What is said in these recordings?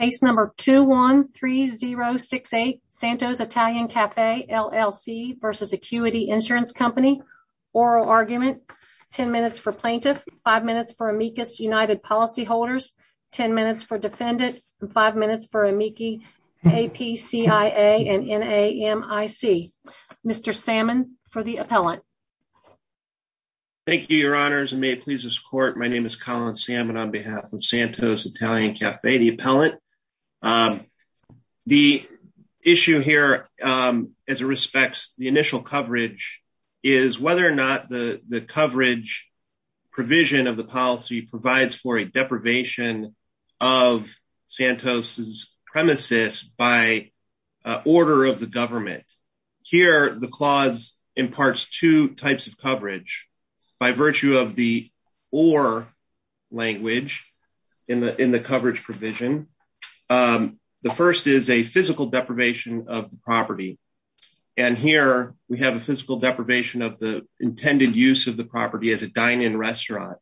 Case number 213068, Santos Italian Cafe LLC v. Acuity Insurance Company, oral argument, 10 minutes for plaintiff, 5 minutes for amicus united policyholders, 10 minutes for defendant, and 5 minutes for amici, APCIA and NAMIC. Mr. Salmon for the appellant. Thank you, your honors, and may it please this court, my name is Colin Salmon on behalf of APCIA. The issue here as it respects the initial coverage is whether or not the coverage provision of the policy provides for a deprivation of Santos's premises by order of the government. Here the clause imparts two types of coverage by virtue of the language in the coverage provision. The first is a physical deprivation of the property, and here we have a physical deprivation of the intended use of the property as a dine-in restaurant.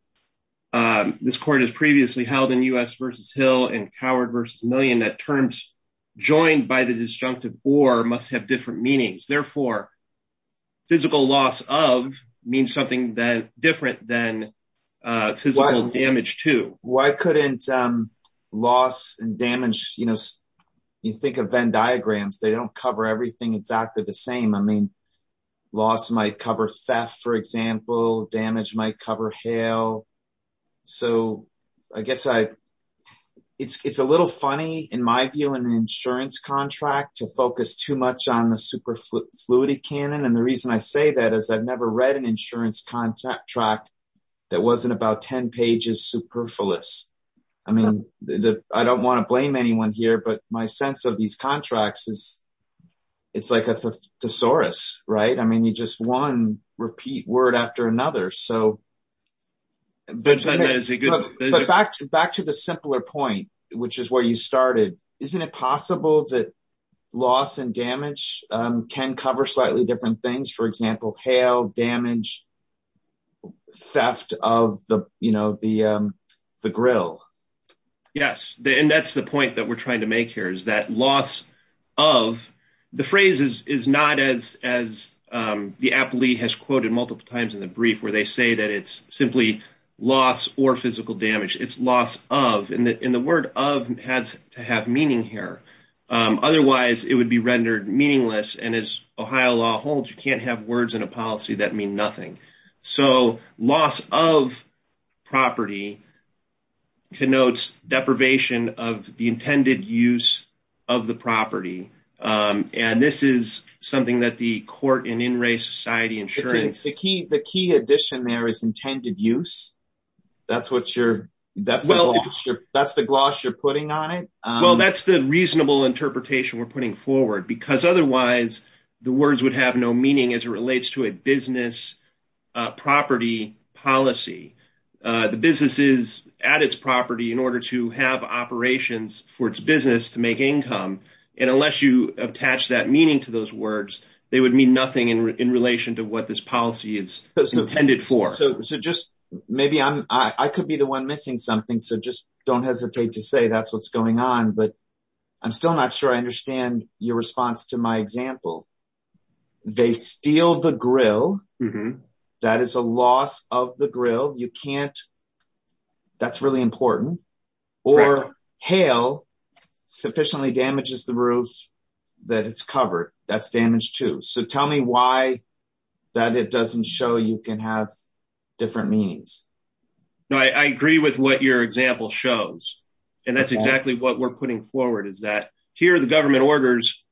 This court has previously held in U.S. v. Hill and Coward v. Million that terms joined by the disjunctive or must have different meanings. Therefore, physical loss of means something different than physical damage to. Why couldn't loss and damage, you know, you think of Venn diagrams, they don't cover everything exactly the same. I mean, loss might cover theft, for example, damage might cover hail. So, I guess I, it's a little funny in my view in an insurance contract to focus too much on the fluidity canon. And the reason I say that is I've never read an insurance contract that wasn't about 10 pages superfluous. I mean, I don't want to blame anyone here, but my sense of these contracts is it's like a thesaurus, right? I mean, you just one repeat word after another. So, back to the simpler point, which is where you started, isn't it possible that loss and damage can cover slightly different things, for example, hail, damage, theft of the, you know, the grill? Yes. And that's the point that we're trying to make here is that loss of, the phrase is not as the appellee has quoted multiple times in the brief where they say that it's simply loss or physical damage, it's loss of. And the word of has to have meaning here. Otherwise it would be rendered meaningless. And as Ohio law holds, you can't have words in a policy that mean nothing. So, loss of property connotes deprivation of the intended use of the property. And this is something that the court and in race society insurance. The key addition there is intended use. That's what you're, that's the gloss you're putting on it. Well, that's the reasonable interpretation we're putting forward because otherwise the words would have no meaning as it relates to a business property policy. The business is at its property in order to have operations for its business to make income. And unless you attach that meaning to those words, they would mean nothing in relation to what this policy is intended for. So, just maybe I'm, I could be the one missing something. So, just hesitate to say that's what's going on, but I'm still not sure I understand your response to my example. They steal the grill. That is a loss of the grill. You can't, that's really important. Or hail sufficiently damages the roof that it's covered. That's damaged too. So, tell me why that it doesn't show you can have different meanings. No, I agree with what your example shows. And that's exactly what we're putting forward is that here the government orders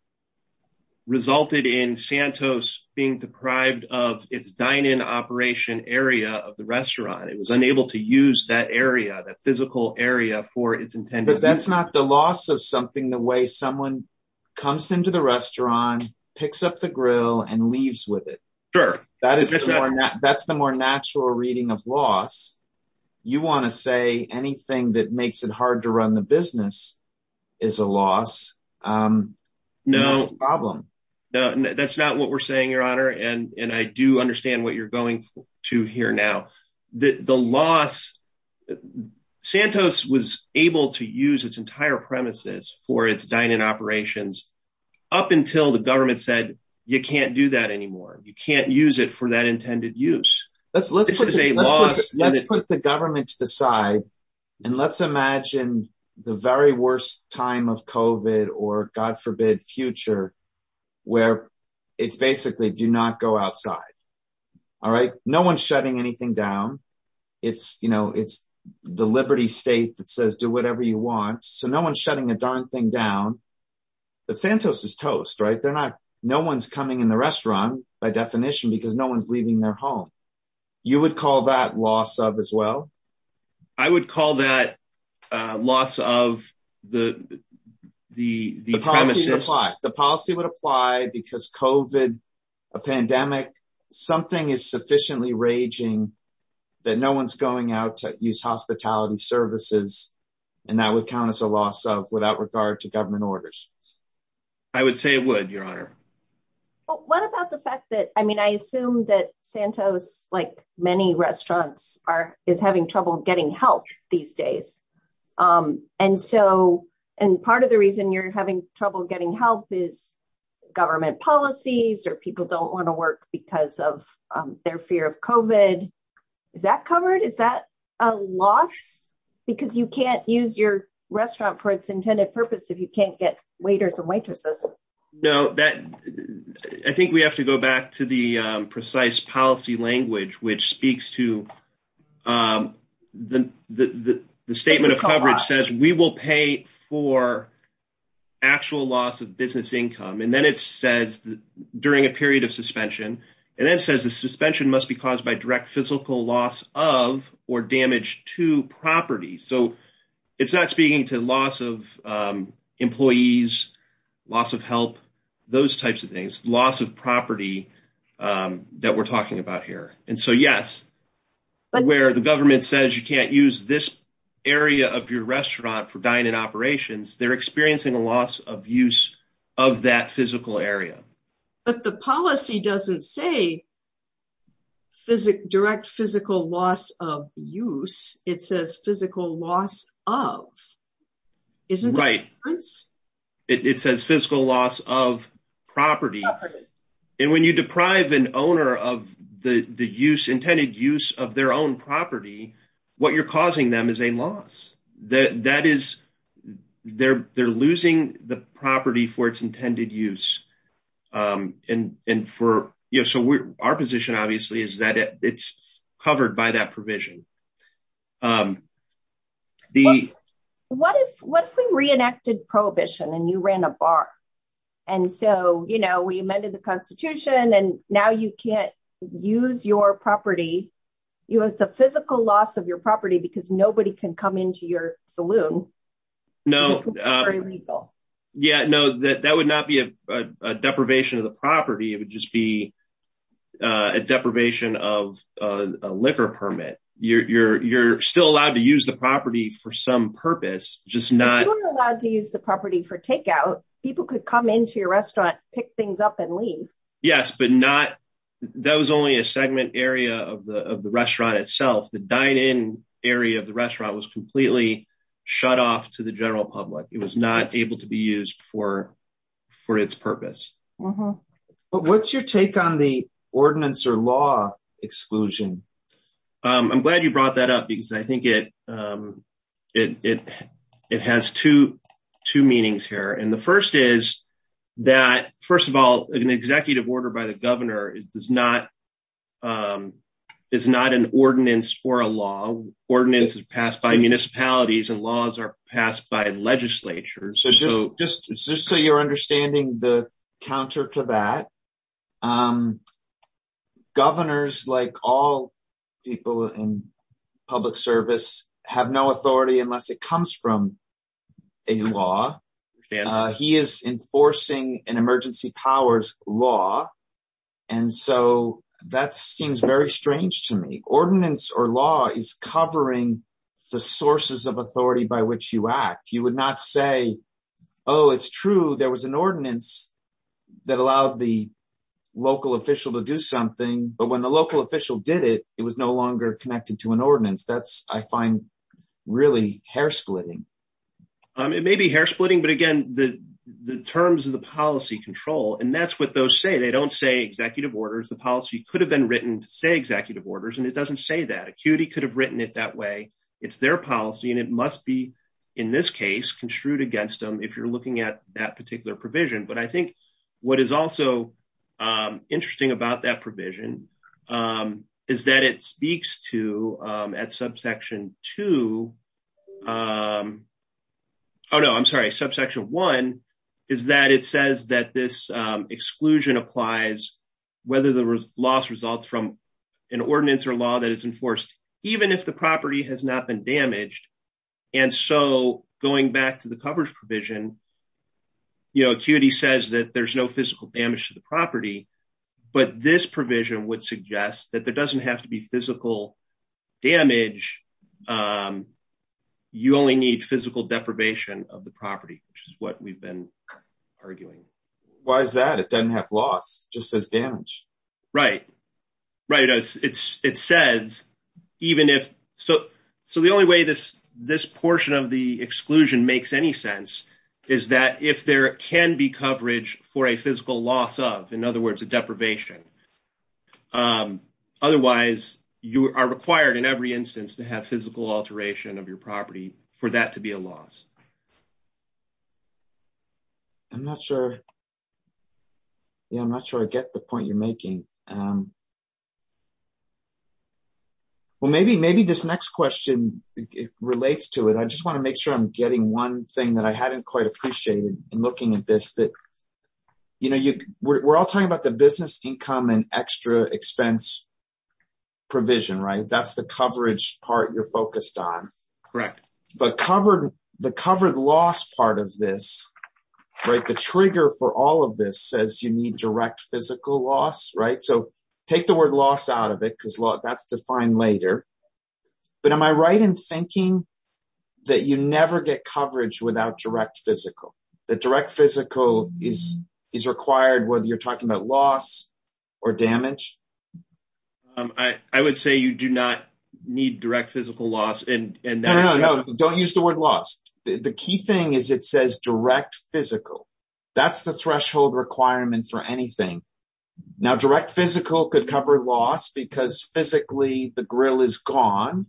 resulted in Santos being deprived of its dine-in operation area of the restaurant. It was unable to use that area, that physical area for its intended. But that's not the loss of something the way comes into the restaurant, picks up the grill, and leaves with it. Sure. That's the more natural reading of loss. You want to say anything that makes it hard to run the business is a loss. No problem. No, that's not what we're saying, your honor. And I do understand what you're going to hear now. The loss, Santos was able to use its entire premises for its dine-in operations up until the government said, you can't do that anymore. You can't use it for that intended use. Let's put the government to the side and let's imagine the very worst time of COVID or God it's basically do not go outside. No one's shutting anything down. It's the liberty state that says do whatever you want. So no one's shutting a darn thing down. But Santos is toast. No one's coming in the restaurant by definition because no one's leaving their home. You would call that loss of as well? I would call that loss of the premises. The policy would apply because COVID, a pandemic, something is sufficiently raging that no one's going out to use hospitality services. And that would count as a loss of without regard to government orders. I would say it would, your honor. What about the fact that, I mean, I assume that Santos, like many restaurants, is having trouble getting help these days. And part of the reason you're having trouble getting help is government policies or people don't want to work because of their fear of COVID. Is that covered? Is that a loss? Because you can't use your restaurant for its intended purpose if you can't get waiters and waitresses. No, I think we have to go back to the the statement of coverage says we will pay for actual loss of business income. And then it says during a period of suspension. And then it says the suspension must be caused by direct physical loss of or damage to property. So it's not speaking to loss of employees, loss of help, those types of things, loss of property that we're talking about here. And so yes, where the government says you can't use this area of your restaurant for dine-in operations, they're experiencing a loss of use of that physical area. But the policy doesn't say direct physical loss of use. It says physical loss of. Isn't it? Right. It says physical loss of property. And when you deprive an owner of the use intended use of their own property, what you're causing them is a loss that that is they're they're losing the property for its intended use. And for you. So our position, obviously, is that it's covered by that provision. The what if what if we reenacted prohibition and you ran a bar? And so, you know, we amended the Constitution and now you can't use your property. You know, it's a physical loss of your property because nobody can come into your saloon. No, very legal. Yeah, no, that that would not be a deprivation of the property. It would just be a deprivation of a liquor permit. You're still allowed to use the property for some purpose, just not allowed to use the property for takeout. People could come into your restaurant, pick things up and leave. Yes, but not that was only a segment area of the restaurant itself. The dine-in area of the restaurant was completely shut off to the general public. It was not able to be used for for its purpose. But what's your take on the ordinance or law exclusion? I'm glad you brought that up because I think it it it it has two two meanings here. And the first is that, first of all, an executive order by the governor does not is not an ordinance for a law ordinance passed by counter to that. Governors, like all people in public service, have no authority unless it comes from a law. He is enforcing an emergency powers law. And so that seems very strange to me. Ordinance or law is covering the sources of authority by which you act. You would not say, oh, it's true. There was an ordinance that allowed the local official to do something. But when the local official did it, it was no longer connected to an ordinance. That's I find really hair splitting. It may be hair splitting, but again, the the terms of the policy control and that's what those say. They don't say executive orders. The policy could have been written to say executive orders. And it doesn't say that acuity could have written it that way. It's their policy and it must be in this case construed against them if you're looking at that particular provision. But I think what is also interesting about that provision is that it speaks to at subsection two. Oh, no, I'm sorry. Subsection one is that it says that this exclusion applies whether the loss results from an ordinance or law that is enforced, even if the property has not been damaged. And so going back to the coverage provision, acuity says that there's no physical damage to the property. But this provision would suggest that there doesn't have to be physical damage. You only need physical deprivation of the property, which is what we've been arguing. Why is that? It doesn't have loss, just says damage. Right. Right. It's it says even if so. So the only way this this portion of the exclusion makes any sense is that if there can be coverage for a physical loss of, in other words, a deprivation. Otherwise, you are required in every instance to have physical alteration of your property for that to be a loss. I'm not sure. Yeah, I'm not sure I get the point you're making. Well, maybe maybe this next question relates to it. I just want to make sure I'm getting one thing that I hadn't quite appreciated in looking at this that, you know, we're all talking about the business income and extra expense provision, right? That's the coverage part you're focused on. Correct. But covered the covered loss part of this, right? The trigger for all of this says you need direct physical loss, right? So take the word loss out of it because that's defined later. But am I right in thinking that you never get coverage without direct physical, that direct physical is is required whether you're talking about loss or damage? Um, I would say you do not need direct physical loss and don't use the word lost. The key thing is it says direct physical. That's the threshold requirements for anything. Now direct physical could cover loss because physically the grill is gone.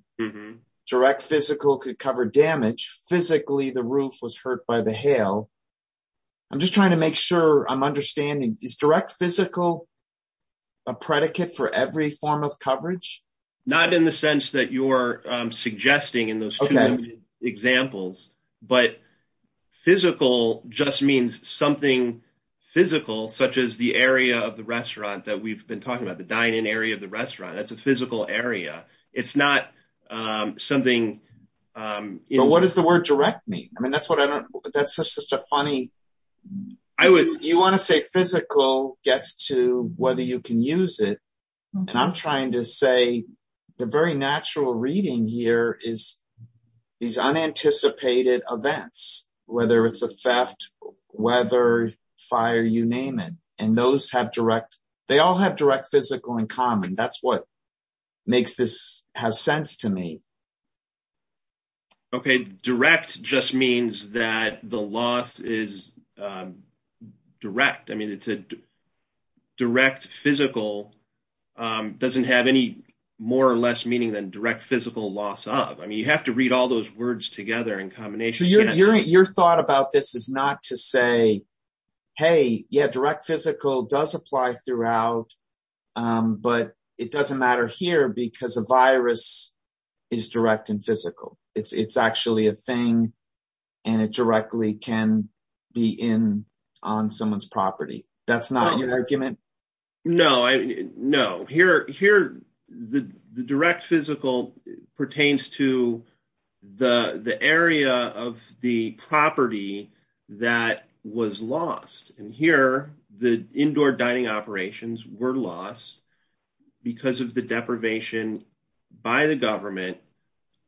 Direct physical could cover damage physically the roof was hurt by the hail. I'm just trying to make sure I'm understanding is direct physical a predicate for every form of coverage? Not in the sense that you're suggesting in those examples. But physical just means something physical such as the area of the restaurant that we've been talking about the dining area of the restaurant. That's a physical area. It's not something, you know, what does the word direct mean? I mean, that's what I don't that's just a funny, I would you want to say physical gets to whether you can use it. And I'm trying to say, the very natural reading here is these unanticipated events, whether it's a theft, whether fire, you name it, and those have direct, they all have direct physical in common. That's what makes this have sense to me. Okay, direct just means that the loss is direct. I mean, it's a direct physical doesn't have any more or less meaning than direct physical loss of I mean, you have to read all those words together in combination. Your thought about this is not to say, hey, yeah, direct physical does apply throughout. But it doesn't matter here because a virus is direct and physical. It's actually a thing. And it directly can be in on someone's property. That's not your argument. No, I know here, here, the direct physical pertains to the the area of the property that was lost. And here, the indoor dining operations were lost because of the deprivation by the government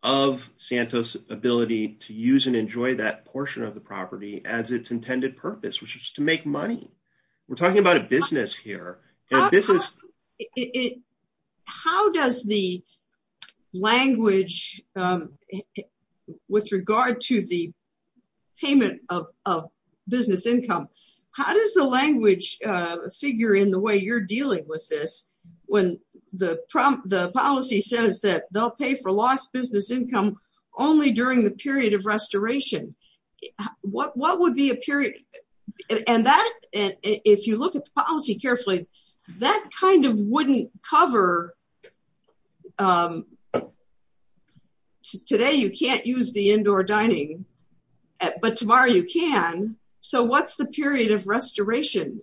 of Santos ability to use and enjoy that portion of the property as its intended purpose, which is to make money. We're talking about a business here. This is it. How does the language with regard to the payment of business income? How does the language figure in the way you're dealing with this? When the prompt the policy says that they'll pay for lost business income only during the period of restoration? What what would be a period? And that if you look at the policy carefully, that kind of wouldn't cover. Today, you can't use the indoor dining. But tomorrow you can. So what's the period of restoration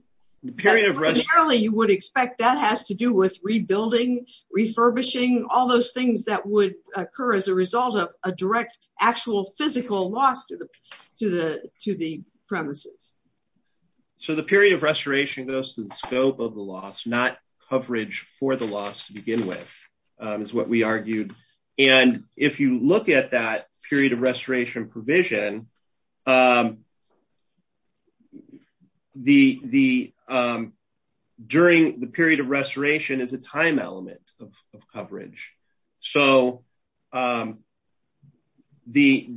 period of running early, you would expect that has to do with rebuilding, refurbishing all those things that would occur as a result of a direct actual physical loss to the to the to the premises. So the period of restoration goes to the scope of the loss, not coverage for the loss to begin with, is what we argued. And if you look at that period of restoration provision, um, the the during the period of restoration is a time element of coverage. So the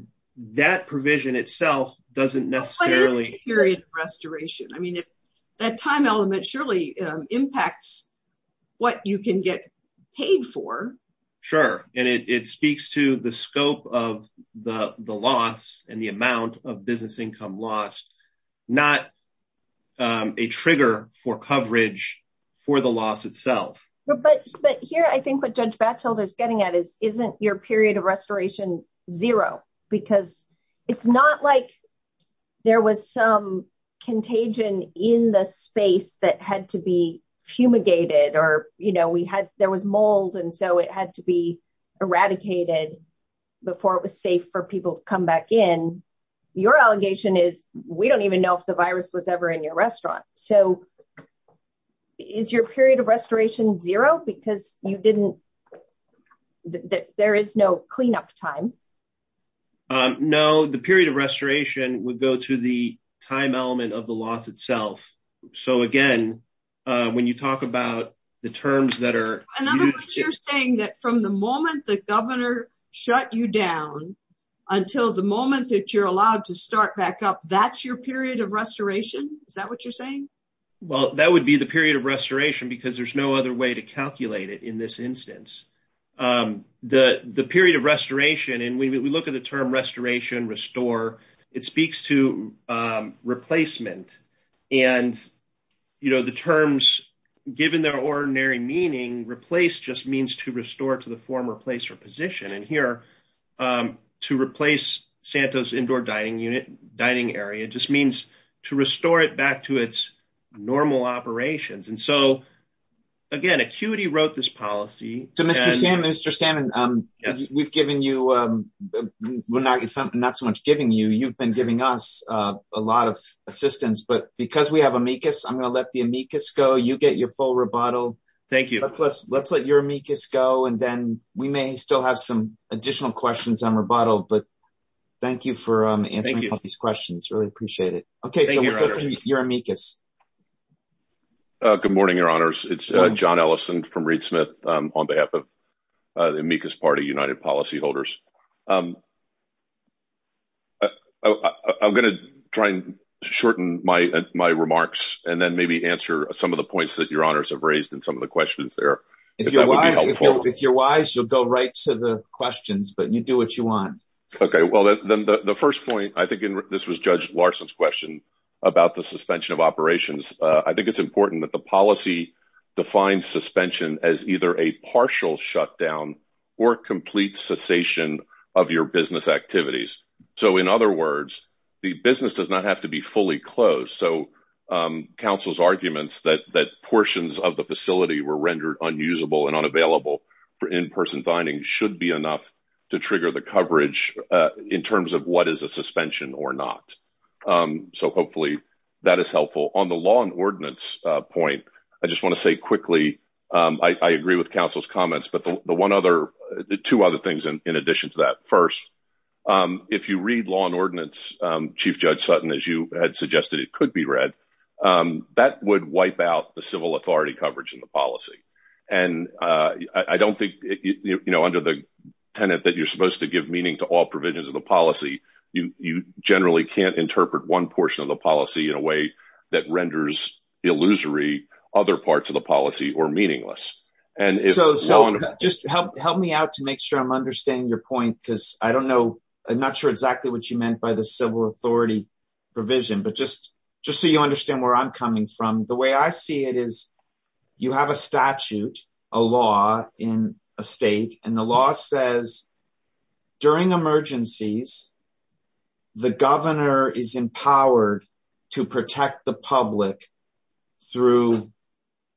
that provision itself doesn't necessarily period of restoration. I mean, if that time element surely impacts what you can get paid for. Sure. And it speaks to the scope of the loss and amount of business income lost, not a trigger for coverage for the loss itself. But But here, I think what Judge Batchelder is getting at is isn't your period of restoration zero, because it's not like there was some contagion in the space that had to be fumigated, or, you know, we had there was mold. And so it had to be eradicated before it was safe for people to come back in. Your allegation is we don't even know if the virus was ever in your restaurant. So is your period of restoration zero because you didn't that there is no cleanup time? No, the period of restoration would go to the time element of the loss itself. So again, when you talk about the terms that are saying that from the moment the governor shut you down, until the moment that you're allowed to start back up, that's your period of restoration? Is that what you're saying? Well, that would be the period of restoration, because there's no other way to calculate it. In this instance, the the period of restoration, and we look at the term restoration, restore, it speaks to replacement. And, you know, the terms, given their ordinary meaning, replace just means to restore to the former place or position. And here, to replace Santos indoor dining unit, dining area just means to restore it back to its normal operations. And so, again, ACUITY wrote this policy. So Mr. Salmon, Mr. Salmon, we've given you not so much giving you, you've been giving us a lot of assistance, but because we have amicus, I'm going to let the amicus go, you get your full rebuttal. Thank you. Let's, let's let your amicus go. And then we may still have some additional questions on rebuttal. But thank you for answering these questions. Really appreciate it. Okay, so your amicus. Good morning, your honors. It's john Ellison from Reed Smith, on behalf of the amicus party, United Policyholders. I'm going to try and shorten my remarks, and then maybe answer some of the points that your honors have raised in some of the questions there. If you're wise, you'll go right to the questions, but you do what you want. Okay, well, then the first point, I think, this was Judge Larson's question about the suspension of operations. I think it's important that the policy defines suspension as either a partial shutdown, or complete cessation of your business activities. So in other words, the business does not have to be fully closed. So counsel's arguments that that portions of the facility were rendered unusable and unavailable for in person dining should be enough to trigger the coverage in terms of what is a suspension or not. So hopefully, that is helpful on the law and the one other two other things. And in addition to that, first, if you read law and ordinance, Chief Judge Sutton, as you had suggested, it could be read, that would wipe out the civil authority coverage in the policy. And I don't think, you know, under the tenet that you're supposed to give meaning to all provisions of the policy, you generally can't interpret one portion of the policy in a way that renders illusory other parts of the policy or meaningless. And so just help me out to make sure I'm understanding your point, because I don't know, I'm not sure exactly what you meant by the civil authority provision. But just, just so you understand where I'm coming from, the way I see it is, you have a statute, a law in a state, and the law says, during emergencies, the governor is empowered to protect the public through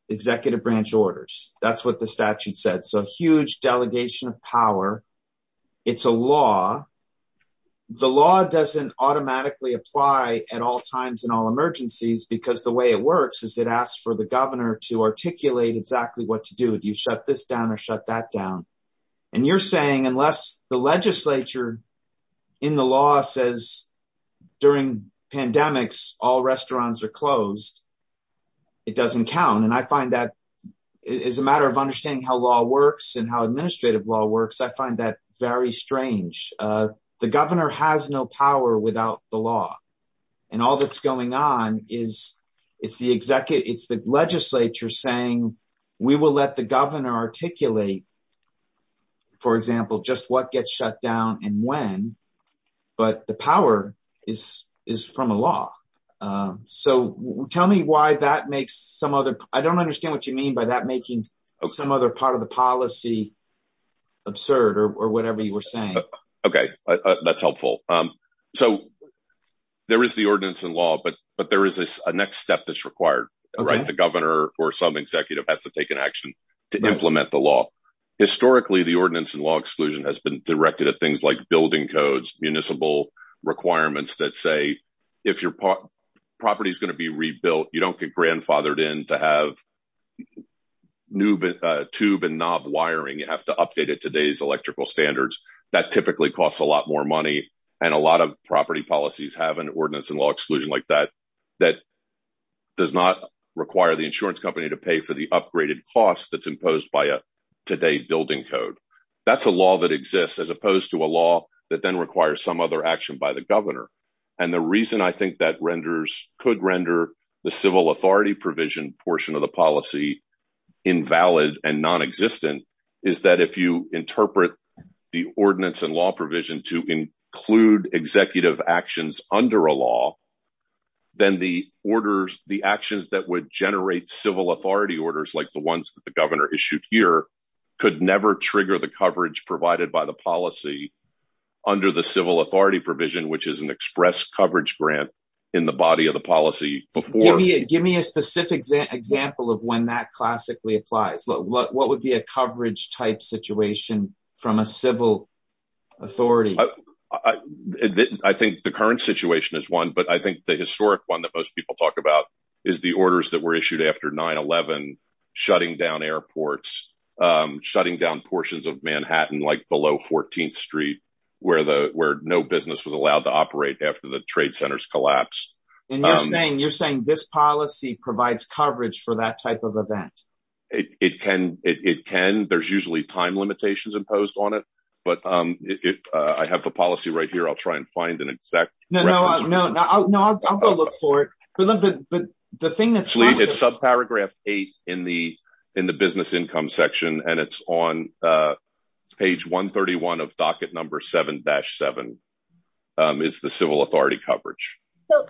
executive branch orders. That's what the statute said. So huge delegation of power. It's a law. The law doesn't automatically apply at all times in all emergencies, because the way it works is it asks for the governor to articulate exactly what to do, do you shut this down or shut that down. And you're saying unless the legislature in the law says, during pandemics, all restaurants are is a matter of understanding how law works and how administrative law works. I find that very strange. The governor has no power without the law. And all that's going on is, it's the executive, it's the legislature saying, we will let the governor articulate, for example, just what gets shut down and when, but the power is, is from a law. So tell me why that makes some other, I don't understand what you mean by that making some other part of the policy absurd or whatever you were saying. Okay, that's helpful. So there is the ordinance in law, but but there is a next step that's required, right? The governor or some executive has to take an action to implement the law. Historically, the ordinance and law exclusion has been directed at things like building codes, municipal requirements that say, if your property is to be rebuilt, you don't get grandfathered in to have new tube and knob wiring, you have to update it today's electrical standards, that typically costs a lot more money. And a lot of property policies have an ordinance and law exclusion like that, that does not require the insurance company to pay for the upgraded costs that's imposed by a today building code. That's a law that exists as opposed to a law that then requires some other action by the governor. And the reason I think that renders could render the civil authority provision portion of the policy invalid and non-existent is that if you interpret the ordinance and law provision to include executive actions under a law, then the orders, the actions that would generate civil authority orders like the ones that the governor issued here could never trigger the coverage provided by the policy under the civil authority provision, which is an express coverage grant in the body of the policy. Give me a specific example of when that classically applies. What would be a coverage type situation from a civil authority? I think the current situation is one, but I think the historic one that most people talk about is the orders that were issued after 9-11, shutting down airports, shutting down portions of Manhattan like below 14th street where no business was allowed to operate after the trade centers collapsed. And you're saying this policy provides coverage for that type of event? It can. There's usually time limitations imposed on it, but I have the policy right here. I'll try and find an exact reference. No, I'll go look for it. The thing that's... It's subparagraph eight in the business income section and it's on page 131 of docket number 7-7 is the civil authority coverage.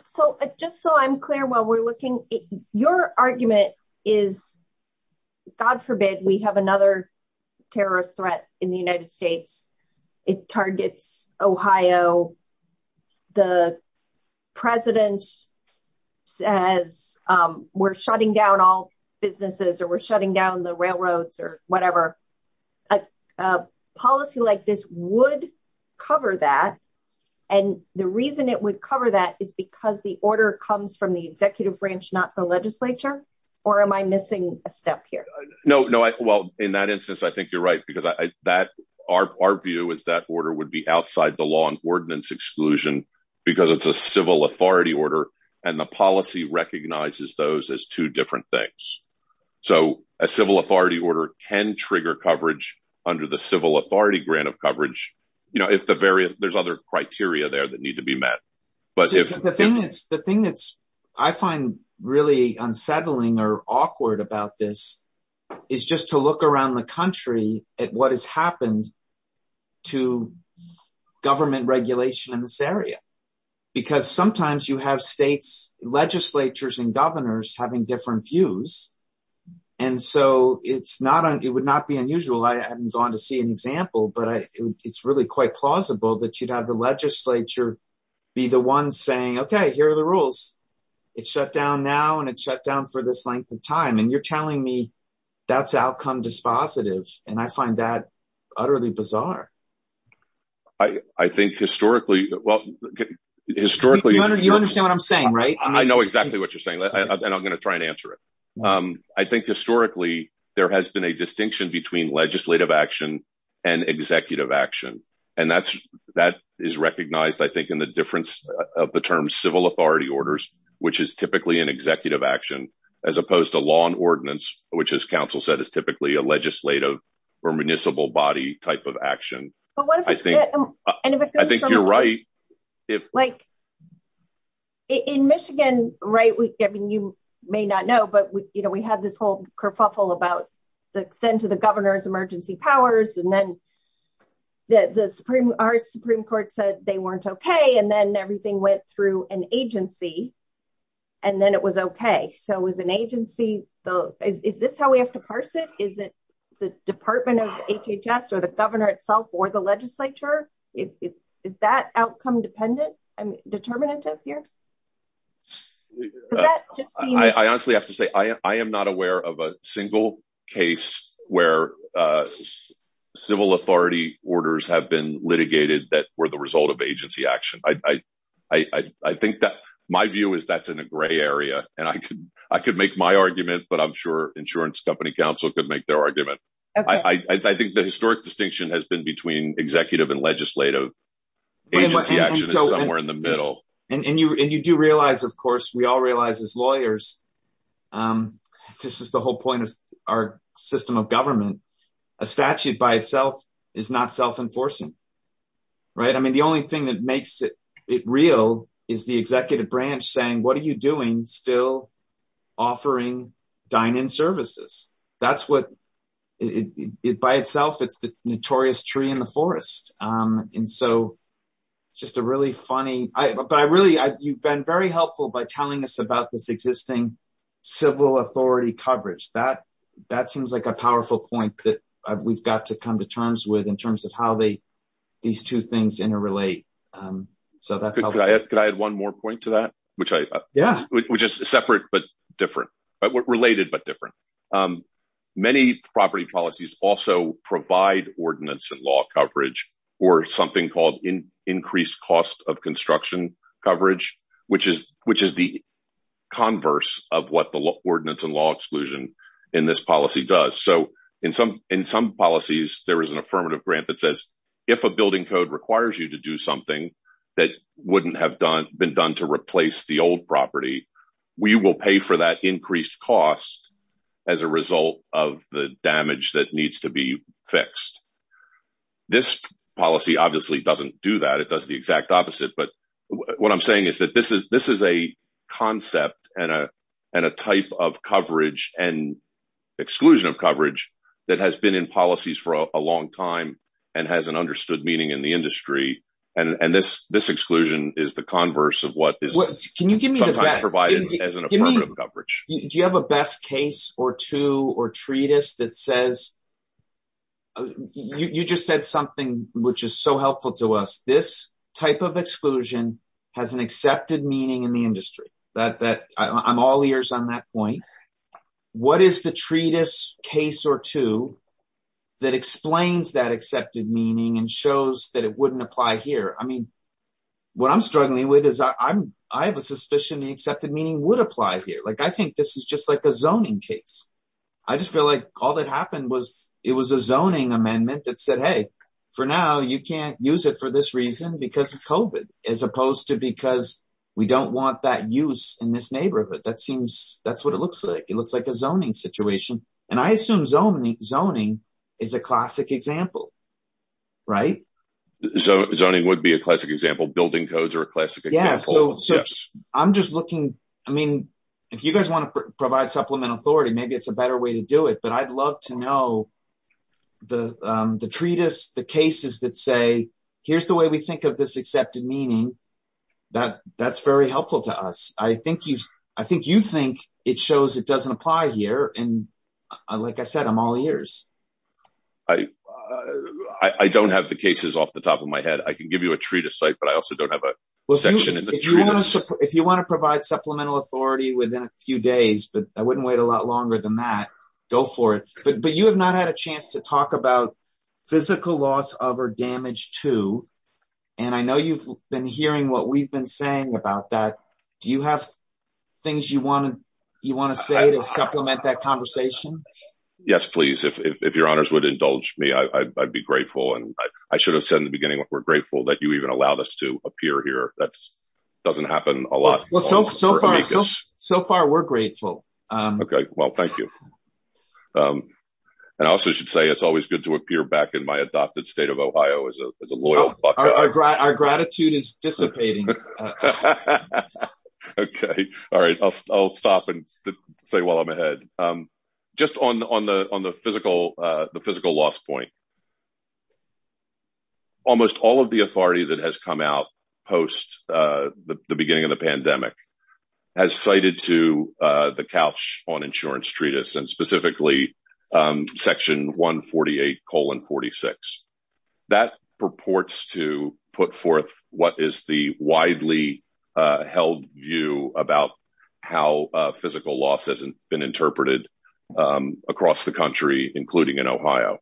So just so I'm clear while we're looking, your argument is, God forbid, we have another terrorist threat in the United States. It targets Ohio. The president says, we're shutting down all businesses or we're shutting down the railroads or whatever. A policy like this would cover that. And the reason it would cover that is because the order comes from the executive branch, not the legislature, or am I missing a step here? No, no. Well, in that instance, I think you're right because our view is that order would be outside the law and ordinance exclusion because it's a civil authority order and the policy recognizes those as two different things. So a civil authority order can trigger coverage under the civil authority grant of coverage if there's other criteria there that need to be met. The thing that I find really at what has happened to government regulation in this area, because sometimes you have states, legislatures, and governors having different views. And so it would not be unusual. I haven't gone to see an example, but it's really quite plausible that you'd have the legislature be the one saying, okay, here are the rules. It's shut down now and it's shut down for this length of time. And you're telling me that's outcome dispositive. And I find that utterly bizarre. I think historically, well, historically... You understand what I'm saying, right? I know exactly what you're saying and I'm going to try and answer it. I think historically, there has been a distinction between legislative action and executive action. And that is recognized, I think, in the difference of the term civil authority orders, which is typically an executive action, as opposed to law and ordinance, which as counsel said, is typically a legislative or municipal body type of action. I think you're right. In Michigan, you may not know, but we had this whole kerfuffle about the extent of the governor's emergency powers. And then our Supreme Court said they weren't okay. And then everything went through an agency and then it was okay. So is this how we have to parse it? Is it the department of HHS or the governor itself or the legislature? Is that outcome dependent and determinative here? I honestly have to say, I am not aware of a single case where civil authority orders have been litigated that were the result of agency action. I think that my view is that's in a gray area and I could make my argument, but I'm sure insurance company counsel could make their argument. I think the historic distinction has been between executive and legislative. Agency action is somewhere in the middle. And you do realize, of course, we all realize as lawyers, this is the whole point of our system of government. A statute by itself is not self-enforcing, right? I mean, the only thing that makes it real is the executive branch saying, what are you doing still offering dine-in services? That's what it by itself, it's the notorious tree in the forest. And so it's just a really funny, but I really, you've been very helpful by telling us about this existing civil authority coverage. That seems like a powerful point that we've got to come to terms with in terms of how these two things interrelate. Could I add one more point to that? Which is separate but different, related but different. Many property policies also provide ordinance and law coverage or something called increased cost of construction coverage, which is the converse of what the ordinance and law exclusion in this policy does. So in some policies, there is an affirmative grant that says, if a building code requires you to do something that wouldn't have been done to replace the old property, we will pay for that increased cost as a result of the damage that needs to be fixed. This policy obviously doesn't do that, does the exact opposite. But what I'm saying is that this is a concept and a type of coverage and exclusion of coverage that has been in policies for a long time and hasn't understood meaning in the industry. And this exclusion is the converse of what is sometimes provided as an affirmative coverage. Do you have a best case or two or treatise that says, you just said something which is so helpful to us. This type of exclusion has an accepted meaning in the industry. I'm all ears on that point. What is the treatise case or two that explains that accepted meaning and shows that it wouldn't apply here? I mean, what I'm struggling with is I have a suspicion the accepted meaning would apply here. I think this is just like a zoning case. I just feel like all that happened was it was a zoning amendment that said, hey, for now you can't use it for this reason because of COVID as opposed to because we don't want that use in this neighborhood. That's what it looks like. It looks like a zoning situation. And I assume zoning is a classic example, right? Zoning would be a classic example. Building codes are a classic example. If you guys want to provide supplemental authority, maybe it's a better way to do it. But I'd love to know the treatise, the cases that say, here's the way we think of this accepted meaning. That's very helpful to us. I think you think it shows it doesn't apply here. And like I said, I'm all ears. I don't have the cases off the top of my head. I can give you a treatise, but I also don't have a section in the treatise. If you want to provide supplemental authority within a few days, but I wouldn't wait a lot longer than that, go for it. But you have not had a chance to talk about physical loss of or damage to, and I know you've been hearing what we've been saying about that. Do you have things you want to say to supplement that conversation? Yes, please. If your honors would indulge me, I'd be grateful. And I should have said in the appear here. That doesn't happen a lot. So far, we're grateful. Okay. Well, thank you. And I also should say it's always good to appear back in my adopted state of Ohio as a loyal. Our gratitude is dissipating. Okay. All right. I'll stop and say while I'm ahead. Just on the physical loss point, almost all of the authority that has come out post the beginning of the pandemic has cited to the couch on insurance treatise and specifically section 148 colon 46. That purports to put forth what is the widely held view about how physical loss hasn't been interpreted across the country, including in Ohio.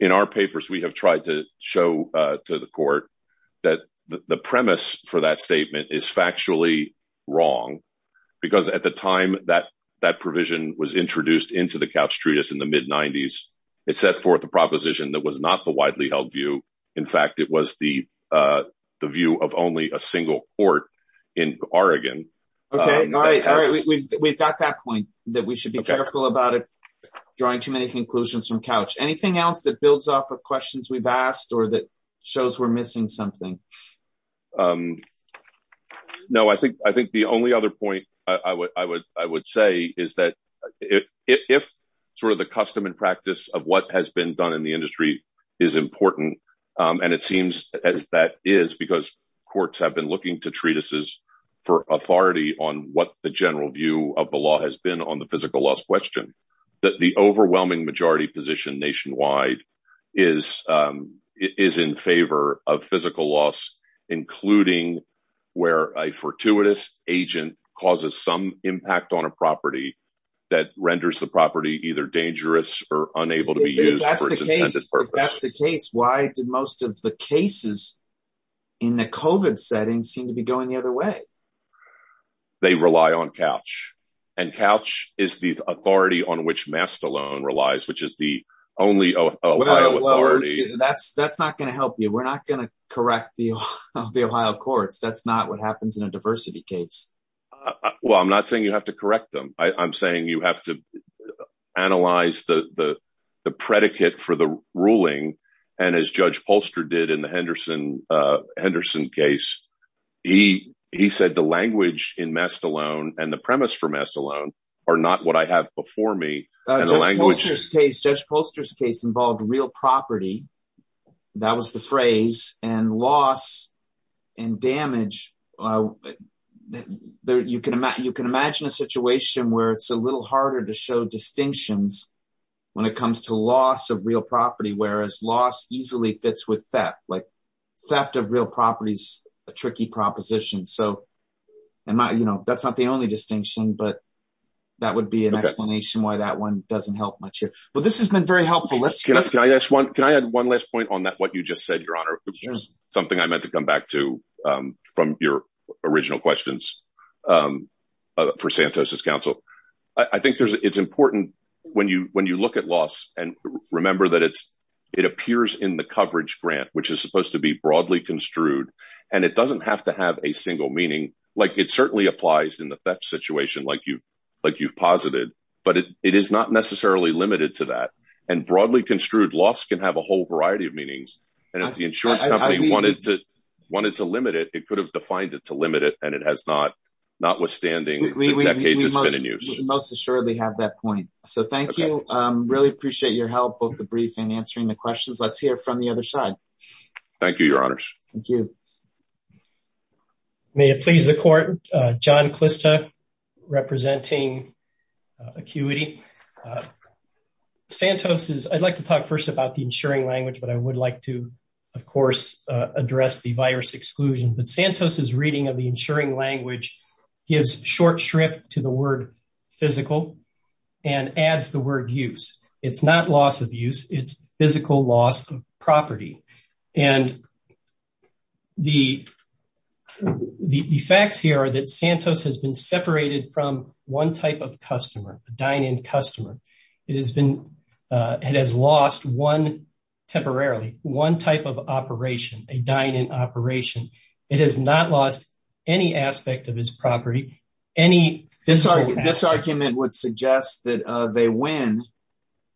In our papers, we have tried to show to the court that the premise for that statement is factually wrong. Because at the time that that provision was introduced into the couch treatise in the mid 90s, it set forth a proposition that was not the widely held view. In fact, it was the view of only a single court in Oregon. Okay. All right. We've got that point that we should be careful about drawing too many conclusions from couch. Anything else that builds off of questions we've asked or that shows we're missing something? No, I think the only other point I would say is that if sort of the custom and practice of what has been done in the industry is important. And it on what the general view of the law has been on the physical loss question, that the overwhelming majority position nationwide is, is in favor of physical loss, including where a fortuitous agent causes some impact on a property that renders the property either dangerous or unable to be used. That's the case. Why did most of the cases in the COVID setting seem to be going the other way? They rely on couch and couch is the authority on which Mastalone relies, which is the only Ohio authority. That's not going to help you. We're not going to correct the Ohio courts. That's not what happens in a diversity case. Well, I'm not saying you have to correct them. I'm saying you have to analyze the predicate for the Henderson case. He said the language in Mastalone and the premise for Mastalone are not what I have before me. Judge Poster's case involved real property. That was the phrase and loss and damage. You can imagine a situation where it's a little harder to show distinctions when it comes to loss of real property, whereas loss easily fits with theft, like theft of real properties, a tricky proposition. That's not the only distinction, but that would be an explanation why that one doesn't help much here. This has been very helpful. Can I add one last point on that, what you just said, Your Honor? Something I meant to come back to from your original questions for Santos' counsel. I think it's important when you look at loss and remember that it appears in the coverage grant, which is supposed to be broadly construed, and it doesn't have to have a single meaning. It certainly applies in the theft situation like you've posited, but it is not necessarily limited to that. Broadly construed, loss can have a whole variety of meanings. If the insurance company wanted to limit it, it could have defined it to limit it, and it has not, notwithstanding the decades it's been in use. Most assuredly have that point. Thank you. Really appreciate your help, both the brief and answering the questions. Let's hear from the other side. Thank you, Your Honors. Thank you. May it please the court. John Clista representing Acuity. I'd like to talk first about the insuring language, but I would like to, of course, address the virus exclusion. Santos' reading of the to the word physical and adds the word use. It's not loss of use. It's physical loss of property, and the facts here are that Santos has been separated from one type of customer, a dine-in customer. It has been, it has lost one temporarily, one type of operation, a dine-in operation. It has not lost any aspect of its property, any. This argument would suggest that they win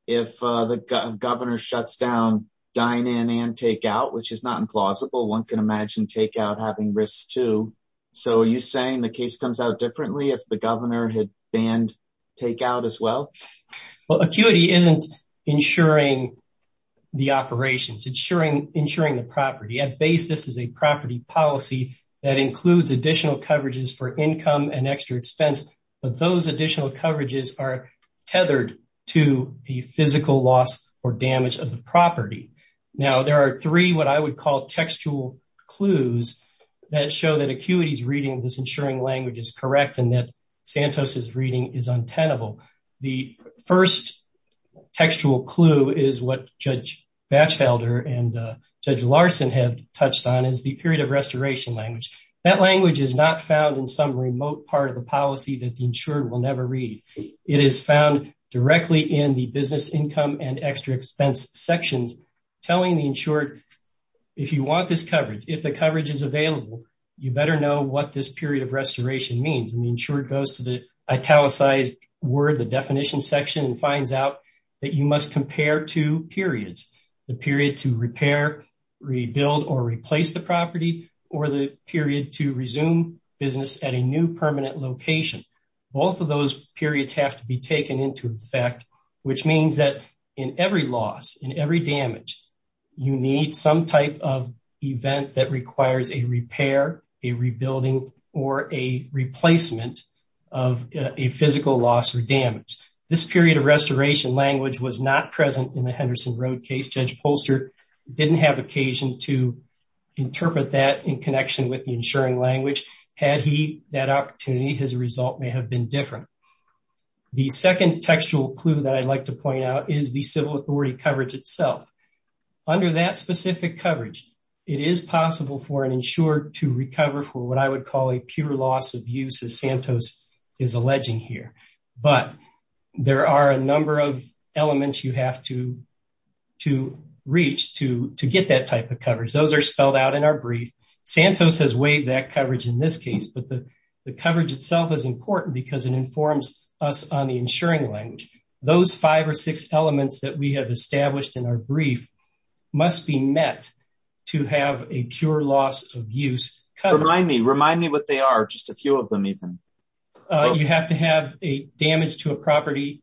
if the governor shuts down dine-in and takeout, which is not implausible. One can imagine takeout having risks too. So are you saying the case comes out differently if the governor had banned takeout as well? Well, Acuity isn't insuring the operations. It's insuring the property. At base, this is a property policy that includes additional coverages for income and extra expense, but those additional coverages are tethered to the physical loss or damage of the property. Now, there are three what I would call textual clues that show that Acuity's reading of this insuring language is correct and that Santos' reading is untenable. The first textual clue is what Judge Batchelder and Judge Larson have touched on is the period of restoration language. That language is not found in some remote part of the policy that the insured will never read. It is found directly in the business income and extra expense sections telling the insured, if you want this coverage, if the coverage is available, you better know what this period of restoration means. And the insured goes to the italicized word, the definition section, and finds out that you must compare two periods, the period to repair, rebuild, or replace the property, or the period to resume business at a new permanent location. Both of those periods have to be taken into effect, which means that in every loss, in every damage, you need some type of event that requires a repair, a rebuilding, or a replacement of a physical loss or damage. This period of restoration language was not present in the Henderson Road case. Judge Polster didn't have occasion to interpret that in connection with the insuring language. Had he that opportunity, his result may have been different. The second textual clue that I'd like to point out is the civil authority coverage itself. Under that specific coverage, it is possible for an insured to recover for what I would call a pure loss of use, as Santos is alleging here. But there are a number of elements you have to reach to get that type of coverage. Those are spelled out in our brief. Santos has weighed that coverage in this case, but the coverage itself is important because it informs us on the insuring language. Those five or six elements that we have established in our brief must be met to have a pure loss of use. Remind me what they are, just a few of them even. You have to have a damage to a property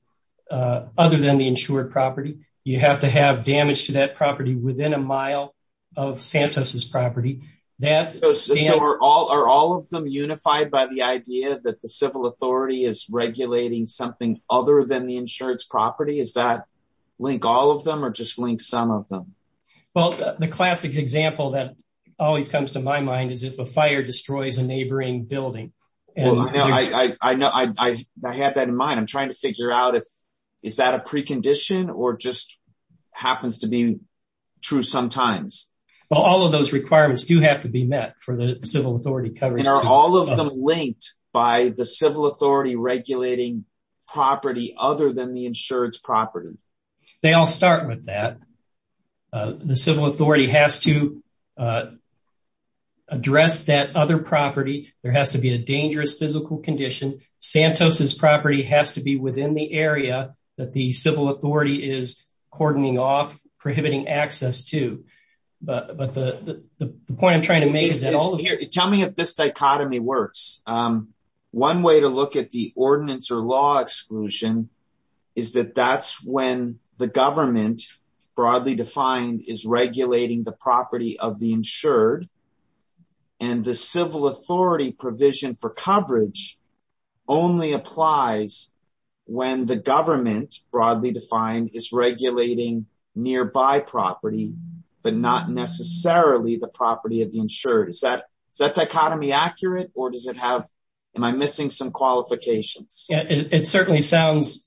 other than the insured property. You have to have damage to that property within a mile of Santos' property. Are all of them unified by the idea that the civil authority is regulating something other than the insured's property? Does that link all of them or just link some of them? The classic example that always comes to my mind is if a fire destroys a neighboring building. I have that in mind. I'm trying to figure out if that is a precondition or just happens to be true sometimes. All of those requirements do have to be met for the civil authority coverage. Are all of them linked by the civil authority regulating property other than the insured's property? The civil authority has to address that other property. There has to be a dangerous physical condition. Santos' property has to be within the area that the civil authority is cordoning off, prohibiting access to. The point I'm trying to make is that all of here... Tell me if this dichotomy works. One way to look at the ordinance or law exclusion is that that's when the government, broadly defined, is regulating the property of the insured. The civil authority provision for coverage only applies when the government, broadly defined, is regulating nearby property but not necessarily the property of the insured. Is that dichotomy accurate or am I missing some qualifications? It certainly sounds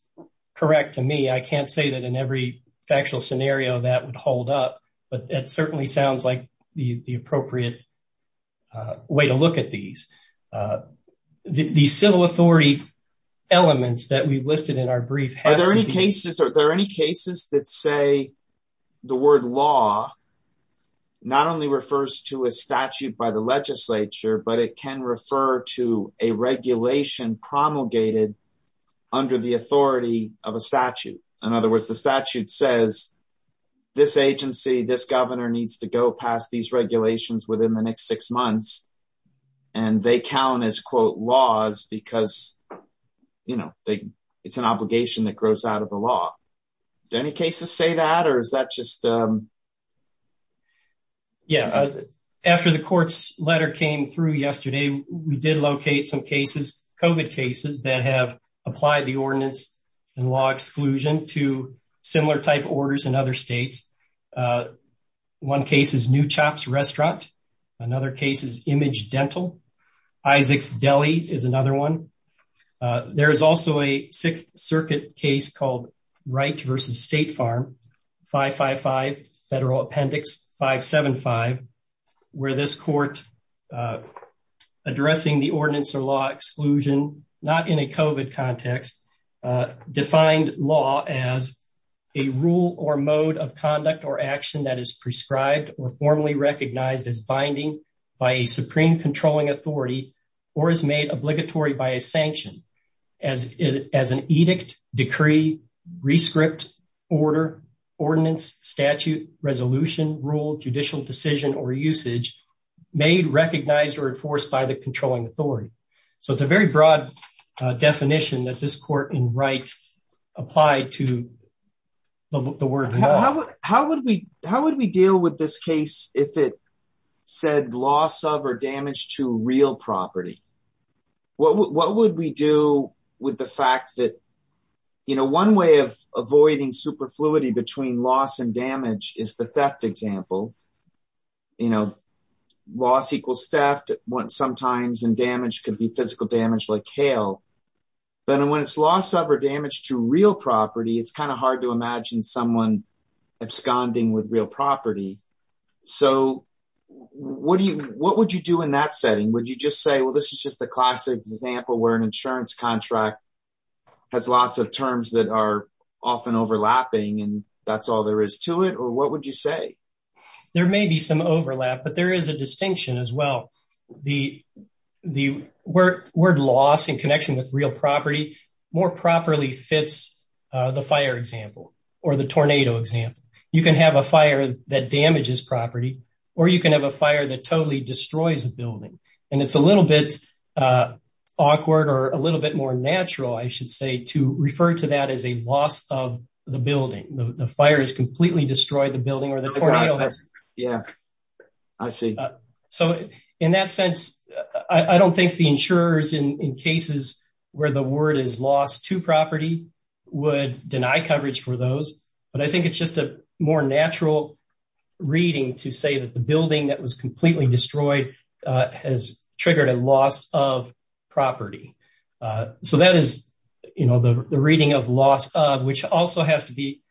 correct to me. I can't say that in every factual scenario that would hold up, but it certainly sounds like the appropriate way to look at these. The civil authority elements that we've listed in our brief... Are there any cases that say the word law not only refers to a statute by the legislature, but it can refer to a regulation promulgated under the authority of a statute? In other words, the statute says this agency, this governor, needs to go past these regulations within the next six months and they count as, quote, laws because it's an obligation that grows out of the We did locate some cases, COVID cases, that have applied the ordinance and law exclusion to similar type orders in other states. One case is New Chop's Restaurant. Another case is Image Dental. Isaac's Deli is another one. There is also a Sixth Circuit case called Wright v. State Farm, 555 Federal Appendix 575, where this court addressing the ordinance or law exclusion, not in a COVID context, defined law as a rule or mode of conduct or action that is prescribed or formally recognized as binding by a supreme controlling authority or is made obligatory by sanction as an edict, decree, re-script, order, ordinance, statute, resolution, rule, judicial decision, or usage made recognized or enforced by the controlling authority. So it's a very broad definition that this court in Wright applied to the word law. How would we deal with this case if it said loss of or damage to real property? What would we do with the fact that, you know, one way of avoiding superfluity between loss and damage is the theft example. You know, loss equals theft. Sometimes damage could be physical damage like hail. But when it's loss of or damage to real property, it's kind of hard to imagine someone absconding with real property. So what would you do in that setting? Would you just say, well, this is just a classic example where an insurance contract has lots of terms that are often overlapping and that's all there is to it? Or what would you say? There may be some overlap, but there is a distinction as well. The word loss in connection with real property more properly fits the fire example or the tornado example. You can have a fire that damages property or you can have a fire that totally destroys a building. And it's a little bit awkward or a little bit more natural, I should say, to refer to that as a loss of the building. The fire has completely destroyed the building or the tornado has. Yeah, I see. So in that sense, I don't think the insurers in cases where the word is loss to property would deny coverage for those. But I think it's just a more natural reading to say that the building that was completely destroyed has triggered a loss of property. So that is, you know, the reading of loss of which also has to be,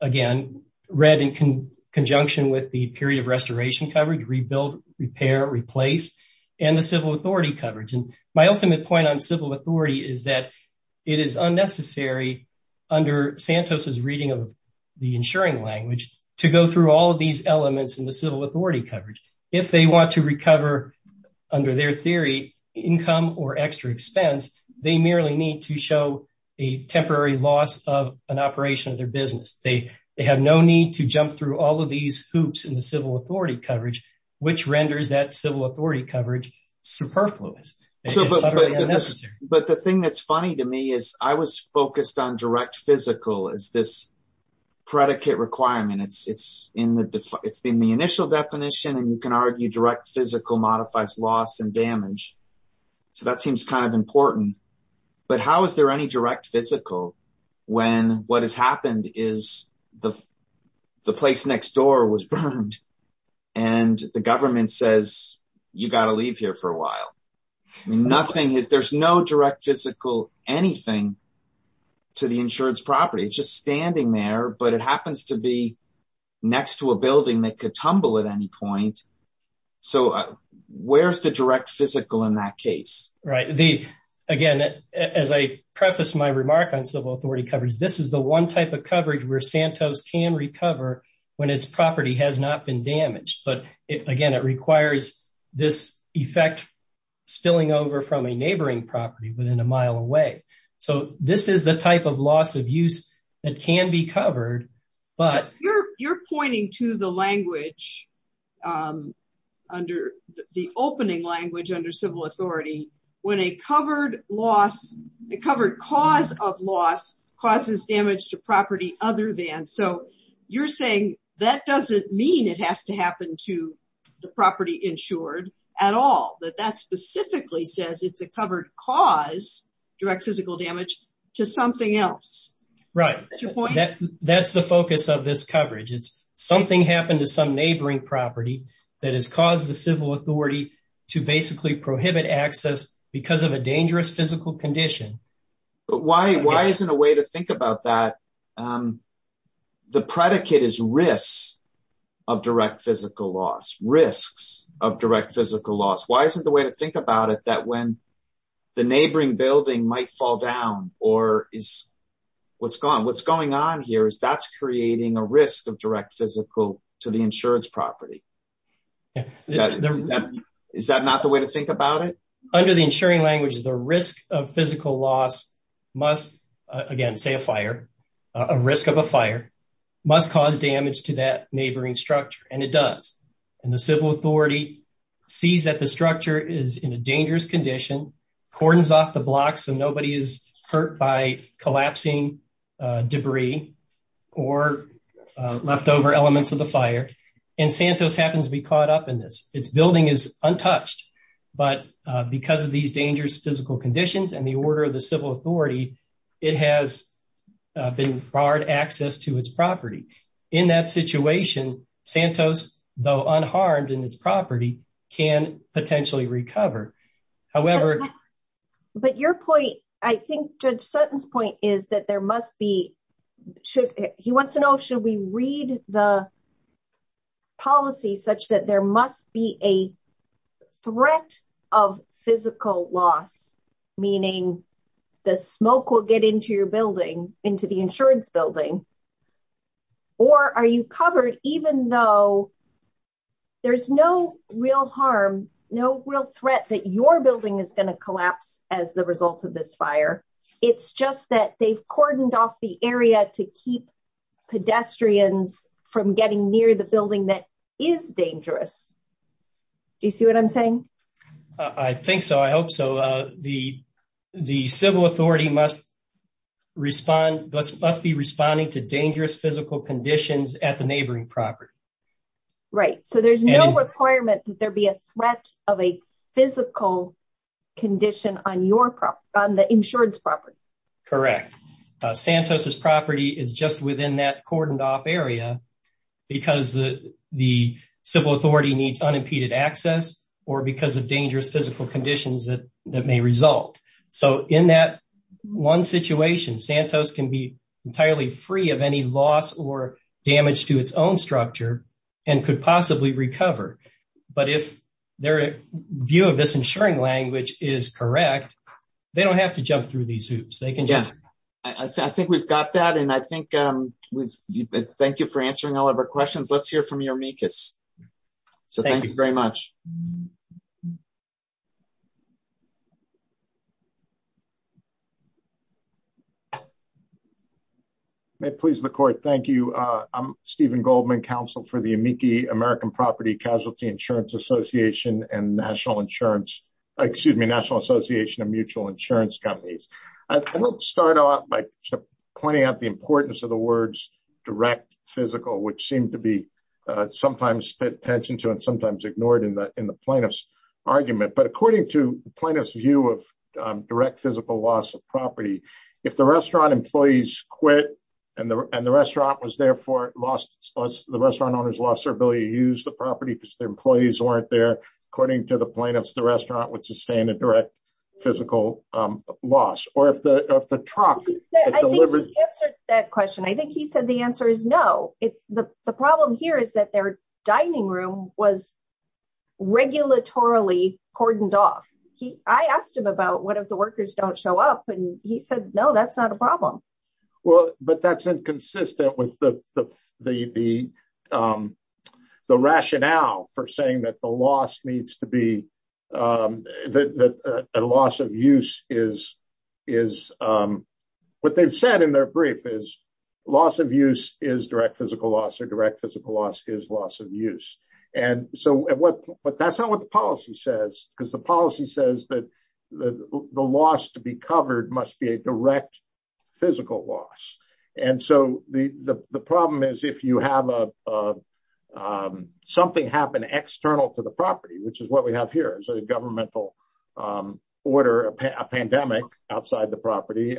again, read in conjunction with the period of restoration coverage, rebuild, repair, replace, and the point on civil authority is that it is unnecessary under Santos's reading of the insuring language to go through all of these elements in the civil authority coverage. If they want to recover, under their theory, income or extra expense, they merely need to show a temporary loss of an operation of their business. They have no need to jump through all of these hoops in the civil coverage, which renders that civil authority coverage superfluous. But the thing that's funny to me is I was focused on direct physical as this predicate requirement. It's in the initial definition and you can argue direct physical modifies loss and damage. So that seems kind of important. But how is there any direct physical when what has happened is the place next door was burned and the government says, you got to leave here for a while. I mean, there's no direct physical anything to the insurance property. It's just standing there, but it happens to be next to a building that could tumble at any point. So where's the direct physical in that case? Right. Again, as I this is the one type of coverage where Santos can recover when its property has not been damaged. But again, it requires this effect spilling over from a neighboring property within a mile away. So this is the type of loss of use that can be covered. But you're pointing to the language under the opening language under civil authority when a covered loss, the covered cause of loss causes damage to property other than. So you're saying that doesn't mean it has to happen to the property insured at all. But that specifically says it's a covered cause direct physical damage to something else. Right. That's the focus of this coverage. It's something happened to some neighboring property that has caused the civil authority to basically prohibit access because of a dangerous physical condition. But why? Why isn't a way to think about that? The predicate is risks of direct physical loss, risks of direct physical loss. Why isn't the way to think about it that when the neighboring building might fall down or is what's gone, what's going on here is that's creating a risk of direct physical to the insurance property. Is that not the way to think about it? Under the insuring language, the risk of physical loss must again say a fire, a risk of a fire must cause damage to that neighboring structure. And it does. And the civil authority sees that the structure is in a dangerous condition, cordons off the blocks so nobody is hurt by collapsing debris or leftover elements of the fire. And Santos happens to be caught up in this. Its building is untouched. But because of these dangerous physical conditions and the order of the civil authority, it has been barred access to its property. In that situation, Santos, though unharmed in its property, can potentially recover. However, but your point, I think Judge Sutton's point is that there must be, should he wants to know, should we read the policy such that there must be a threat of physical loss, meaning the smoke will get into your building, into the insurance building, or are you covered even though there's no real harm, no real threat that your building is going to collapse as the result of this fire. It's just that they've cordoned off the area to keep pedestrians from getting near the building that is dangerous. Do you see what I'm saying? I think so. I hope so. The civil authority must respond, must be responding to dangerous physical conditions at the neighboring property. Right. So there's no requirement that there be a threat of a physical condition on your property, on the insurance property. Correct. Santos's property is just within that cordoned off area because the civil authority needs unimpeded access or because of dangerous physical conditions that may result. So in that one situation, Santos can be entirely free of any loss or damage to its own structure and could possibly recover. But if their view of this insuring language is correct, they don't have to jump through these hoops. I think we've got that. And I think, thank you for answering all of our questions. Let's move on. Thank you very much. May it please the court. Thank you. I'm Stephen Goldman, counsel for the Amici American Property Casualty Insurance Association and National Insurance, excuse me, National Association of Mutual Insurance Companies. I want to start off by pointing out the importance of the words direct physical, which seemed to be sometimes paid into and sometimes ignored in the plaintiff's argument. But according to the plaintiff's view of direct physical loss of property, if the restaurant employees quit and the restaurant was therefore lost, the restaurant owners lost their ability to use the property because their employees weren't there. According to the plaintiffs, the restaurant would sustain a direct physical loss or if the truck. I think he answered that question. I think he said the answer is no. The problem here is that their dining room was regulatorily cordoned off. I asked him about what if the workers don't show up and he said, no, that's not a problem. Well, but that's inconsistent with the rationale for saying that the loss needs to be that a loss of use is what they've said in their brief is loss of use is direct physical loss or direct physical loss is loss of use. And so that's not what the policy says because the policy says that the loss to be covered must be a direct physical loss. And so the problem is if you have something happen external to the property, which is what we have here is a governmental order, a pandemic outside the property.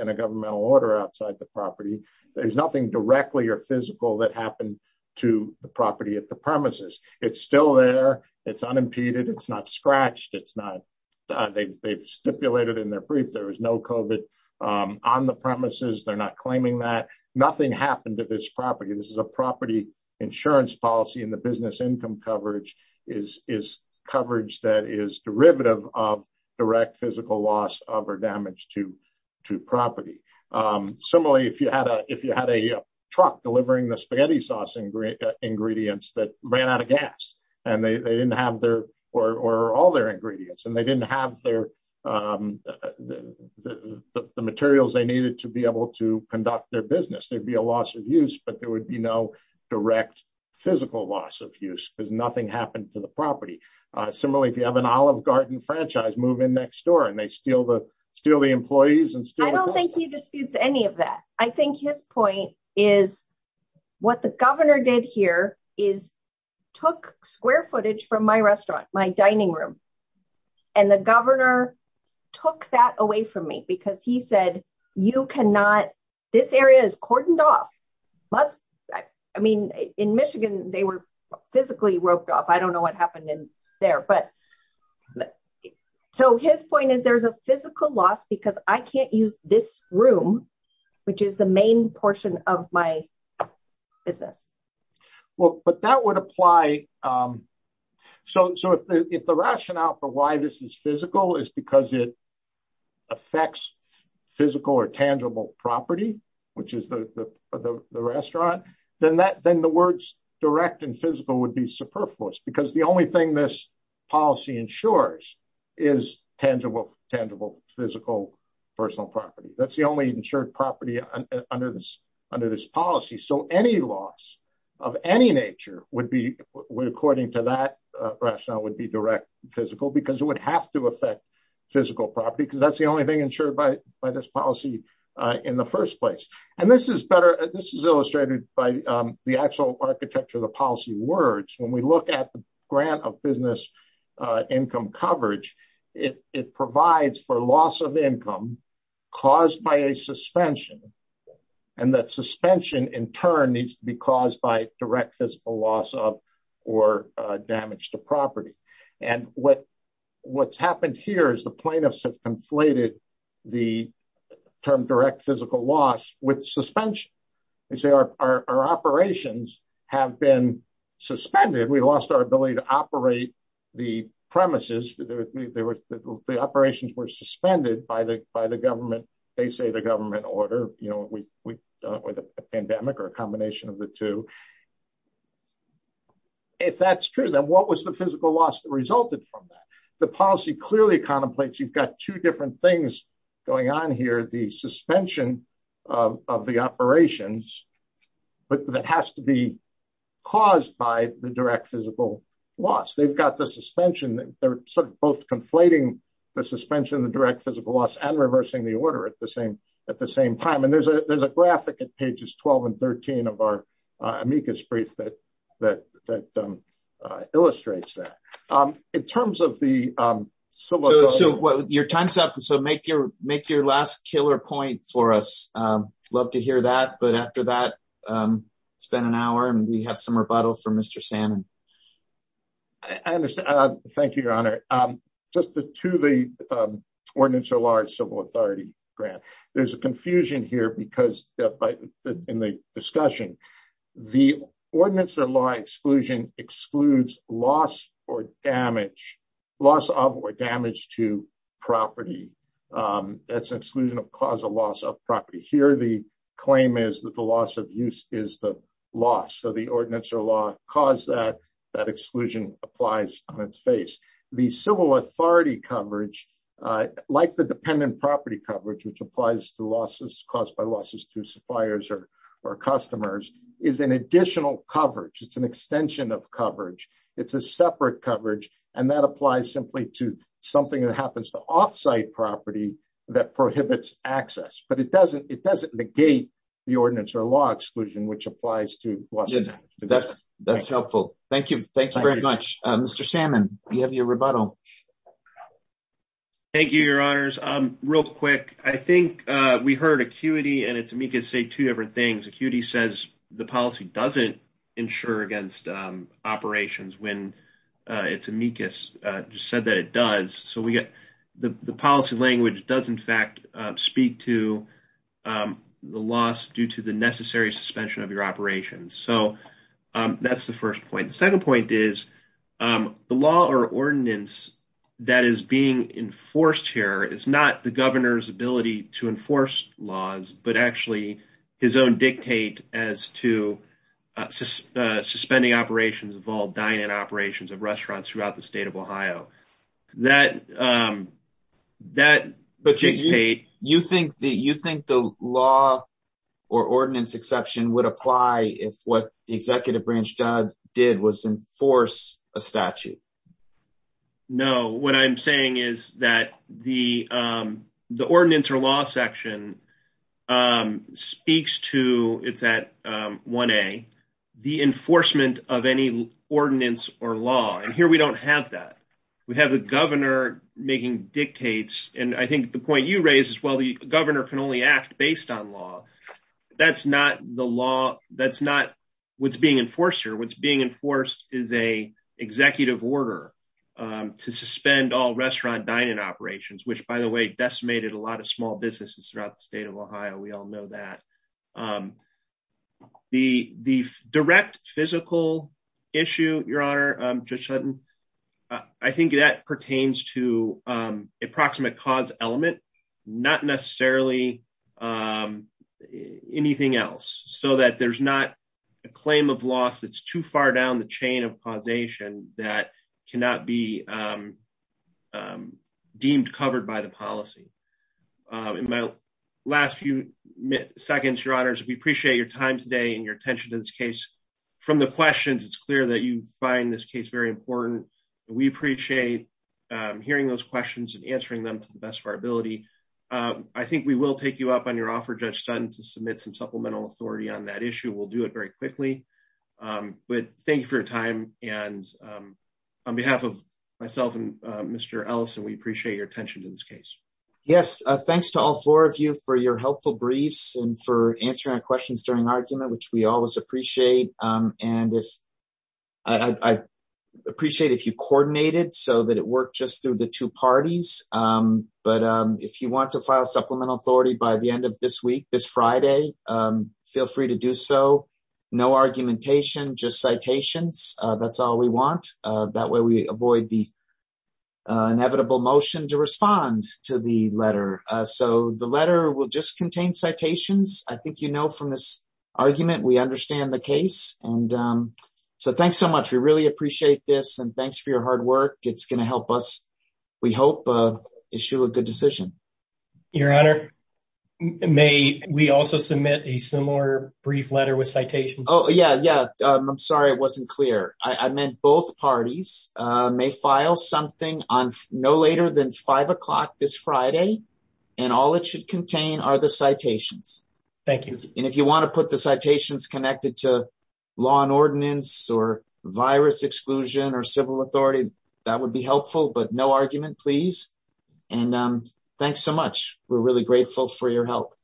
There's nothing directly or physical that happened to the property at the premises. It's still there. It's unimpeded. It's not scratched. It's not they've stipulated in their brief. There was no COVID on the premises. They're not claiming that nothing happened to this property. This is a property insurance policy in the business income coverage is coverage that is derivative of direct physical loss of or damage to property. Similarly, if you had a truck delivering the spaghetti sauce ingredients that ran out of gas and they didn't have their or all their ingredients and they didn't have the materials they needed to be able to conduct their business, there'd be a loss of use, but there would be no direct physical loss of use because nothing happened to the property. Similarly, if you have an olive garden franchise move in next door and they steal the employees. I don't think he disputes any of that. I think his point is what the governor did here is took square footage from my restaurant, my dining room. And the governor took that away from me because he said, you cannot, this area is cordoned off. I mean, in Michigan, they were physically roped off. I don't know what happened in there, but so his point is there's a physical loss because I can't use this room, which is the main portion of my business. Well, but that would apply. So if the rationale for why this is physical is because it the restaurant, then that, then the words direct and physical would be superfluous because the only thing this policy ensures is tangible physical personal property. That's the only insured property under this policy. So any loss of any nature would be according to that rationale would be direct physical because it would have to affect physical property. That's the only thing insured by this policy in the first place. And this is better, this is illustrated by the actual architecture of the policy words. When we look at the grant of business income coverage, it provides for loss of income caused by a suspension. And that suspension in turn needs to be caused by direct physical loss of or damage to property. And what's happened here is the plaintiffs have conflated the term direct physical loss with suspension. They say our operations have been suspended. We lost our ability to operate the premises. The operations were suspended by the government. They say the government order, with a pandemic or a combination of the two. If that's true, then what was the physical loss that resulted from that? The policy clearly contemplates, you've got two different things going on here, the suspension of the operations, but that has to be caused by the direct physical loss. They've got the suspension, they're sort of both conflating the suspension of the direct physical loss and reversing the order at the same time. And there's a graphic at pages 12 and 13 of our amicus brief that illustrates that. In terms of the civil authority- So your time's up. So make your last killer point for us. Love to hear that. But after that, it's been an hour and we have some rebuttal from Mr. Salmon. I understand. Thank you, your honor. Just to the ordinance of large civil authority grant, there's a confusion here because in the discussion, the ordinance or law exclusion excludes loss or damage, loss of or damage to property. That's an exclusion of cause of loss of property. Here, the claim is that the loss of use is the loss. So the ordinance or law cause that that exclusion applies on its face. The civil authority coverage, like the dependent property coverage, which applies to losses caused by losses to suppliers or customers, is an additional coverage. It's an extension of coverage. It's a separate coverage. And that applies simply to something that happens to offsite property that prohibits access. But it doesn't negate the ordinance or law exclusion, which applies to- That's helpful. Thank you. Thank you very much. Mr. Salmon, you have your rebuttal. Thank you, your honors. Real quick, I think we heard ACQUITY and ITS-AMICUS say two different things. ACQUITY says the policy doesn't insure against operations when ITS-AMICUS just said that it does. So we get the policy language does in fact speak to the loss due to the necessary suspension of your operations. So that's the first point. The second point is the law or ordinance that is being enforced here is not the governor's ability to enforce laws, but actually his own dictate as to suspending operations of all dine-in operations of restaurants throughout the state of Ohio. But you think the law or ordinance exception would apply if what the I'm saying is that the ordinance or law section speaks to, it's at 1A, the enforcement of any ordinance or law. And here we don't have that. We have the governor making dictates. And I think the point you raised as well, the governor can only act based on law. That's not what's being enforced here. What's being enforced is an executive order to suspend all restaurant dine-in operations, which by the way, decimated a lot of small businesses throughout the state of Ohio. We all know that. The direct physical issue, your honor, Judge Sutton, I think that pertains to approximate cause element, not necessarily anything else. So that there's not a claim of loss that's too far down the chain of causation that cannot be deemed covered by the policy. In my last few seconds, your honors, we appreciate your time today and your attention to this case. From the questions, it's clear that you find this case very important. We appreciate hearing those questions and answering them to the best of our ability. I think we will take you up on your offer, Judge Sutton, to submit some supplemental authority on that issue. We'll do it very quickly, but thank you for your time. On behalf of myself and Mr. Ellison, we appreciate your attention to this case. Yes. Thanks to all four of you for your helpful briefs and for answering our questions during argument, which we always appreciate. I appreciate if you coordinated so that it worked just through the two parties, but if you want to file supplemental authority by the end of this week, this Friday, feel free to do so. No argumentation, just citations. That's all we want. That way we avoid the inevitable motion to respond to the letter. So the letter will just contain citations. I think you know from this argument, we understand the case. So thanks so much. We really appreciate this and thanks for your hard work. It's going to help us, we hope, issue a good decision. Your Honor, may we also submit a similar brief letter with citations? Oh yeah, yeah. I'm sorry it wasn't clear. I meant both parties may file something on no later than five o'clock this Friday, and all it should contain are the citations. Thank you. And if you want to put the citations connected to law and ordinance or virus exclusion or civil authority, that would helpful, but no argument please. And thanks so much. We're really grateful for your help.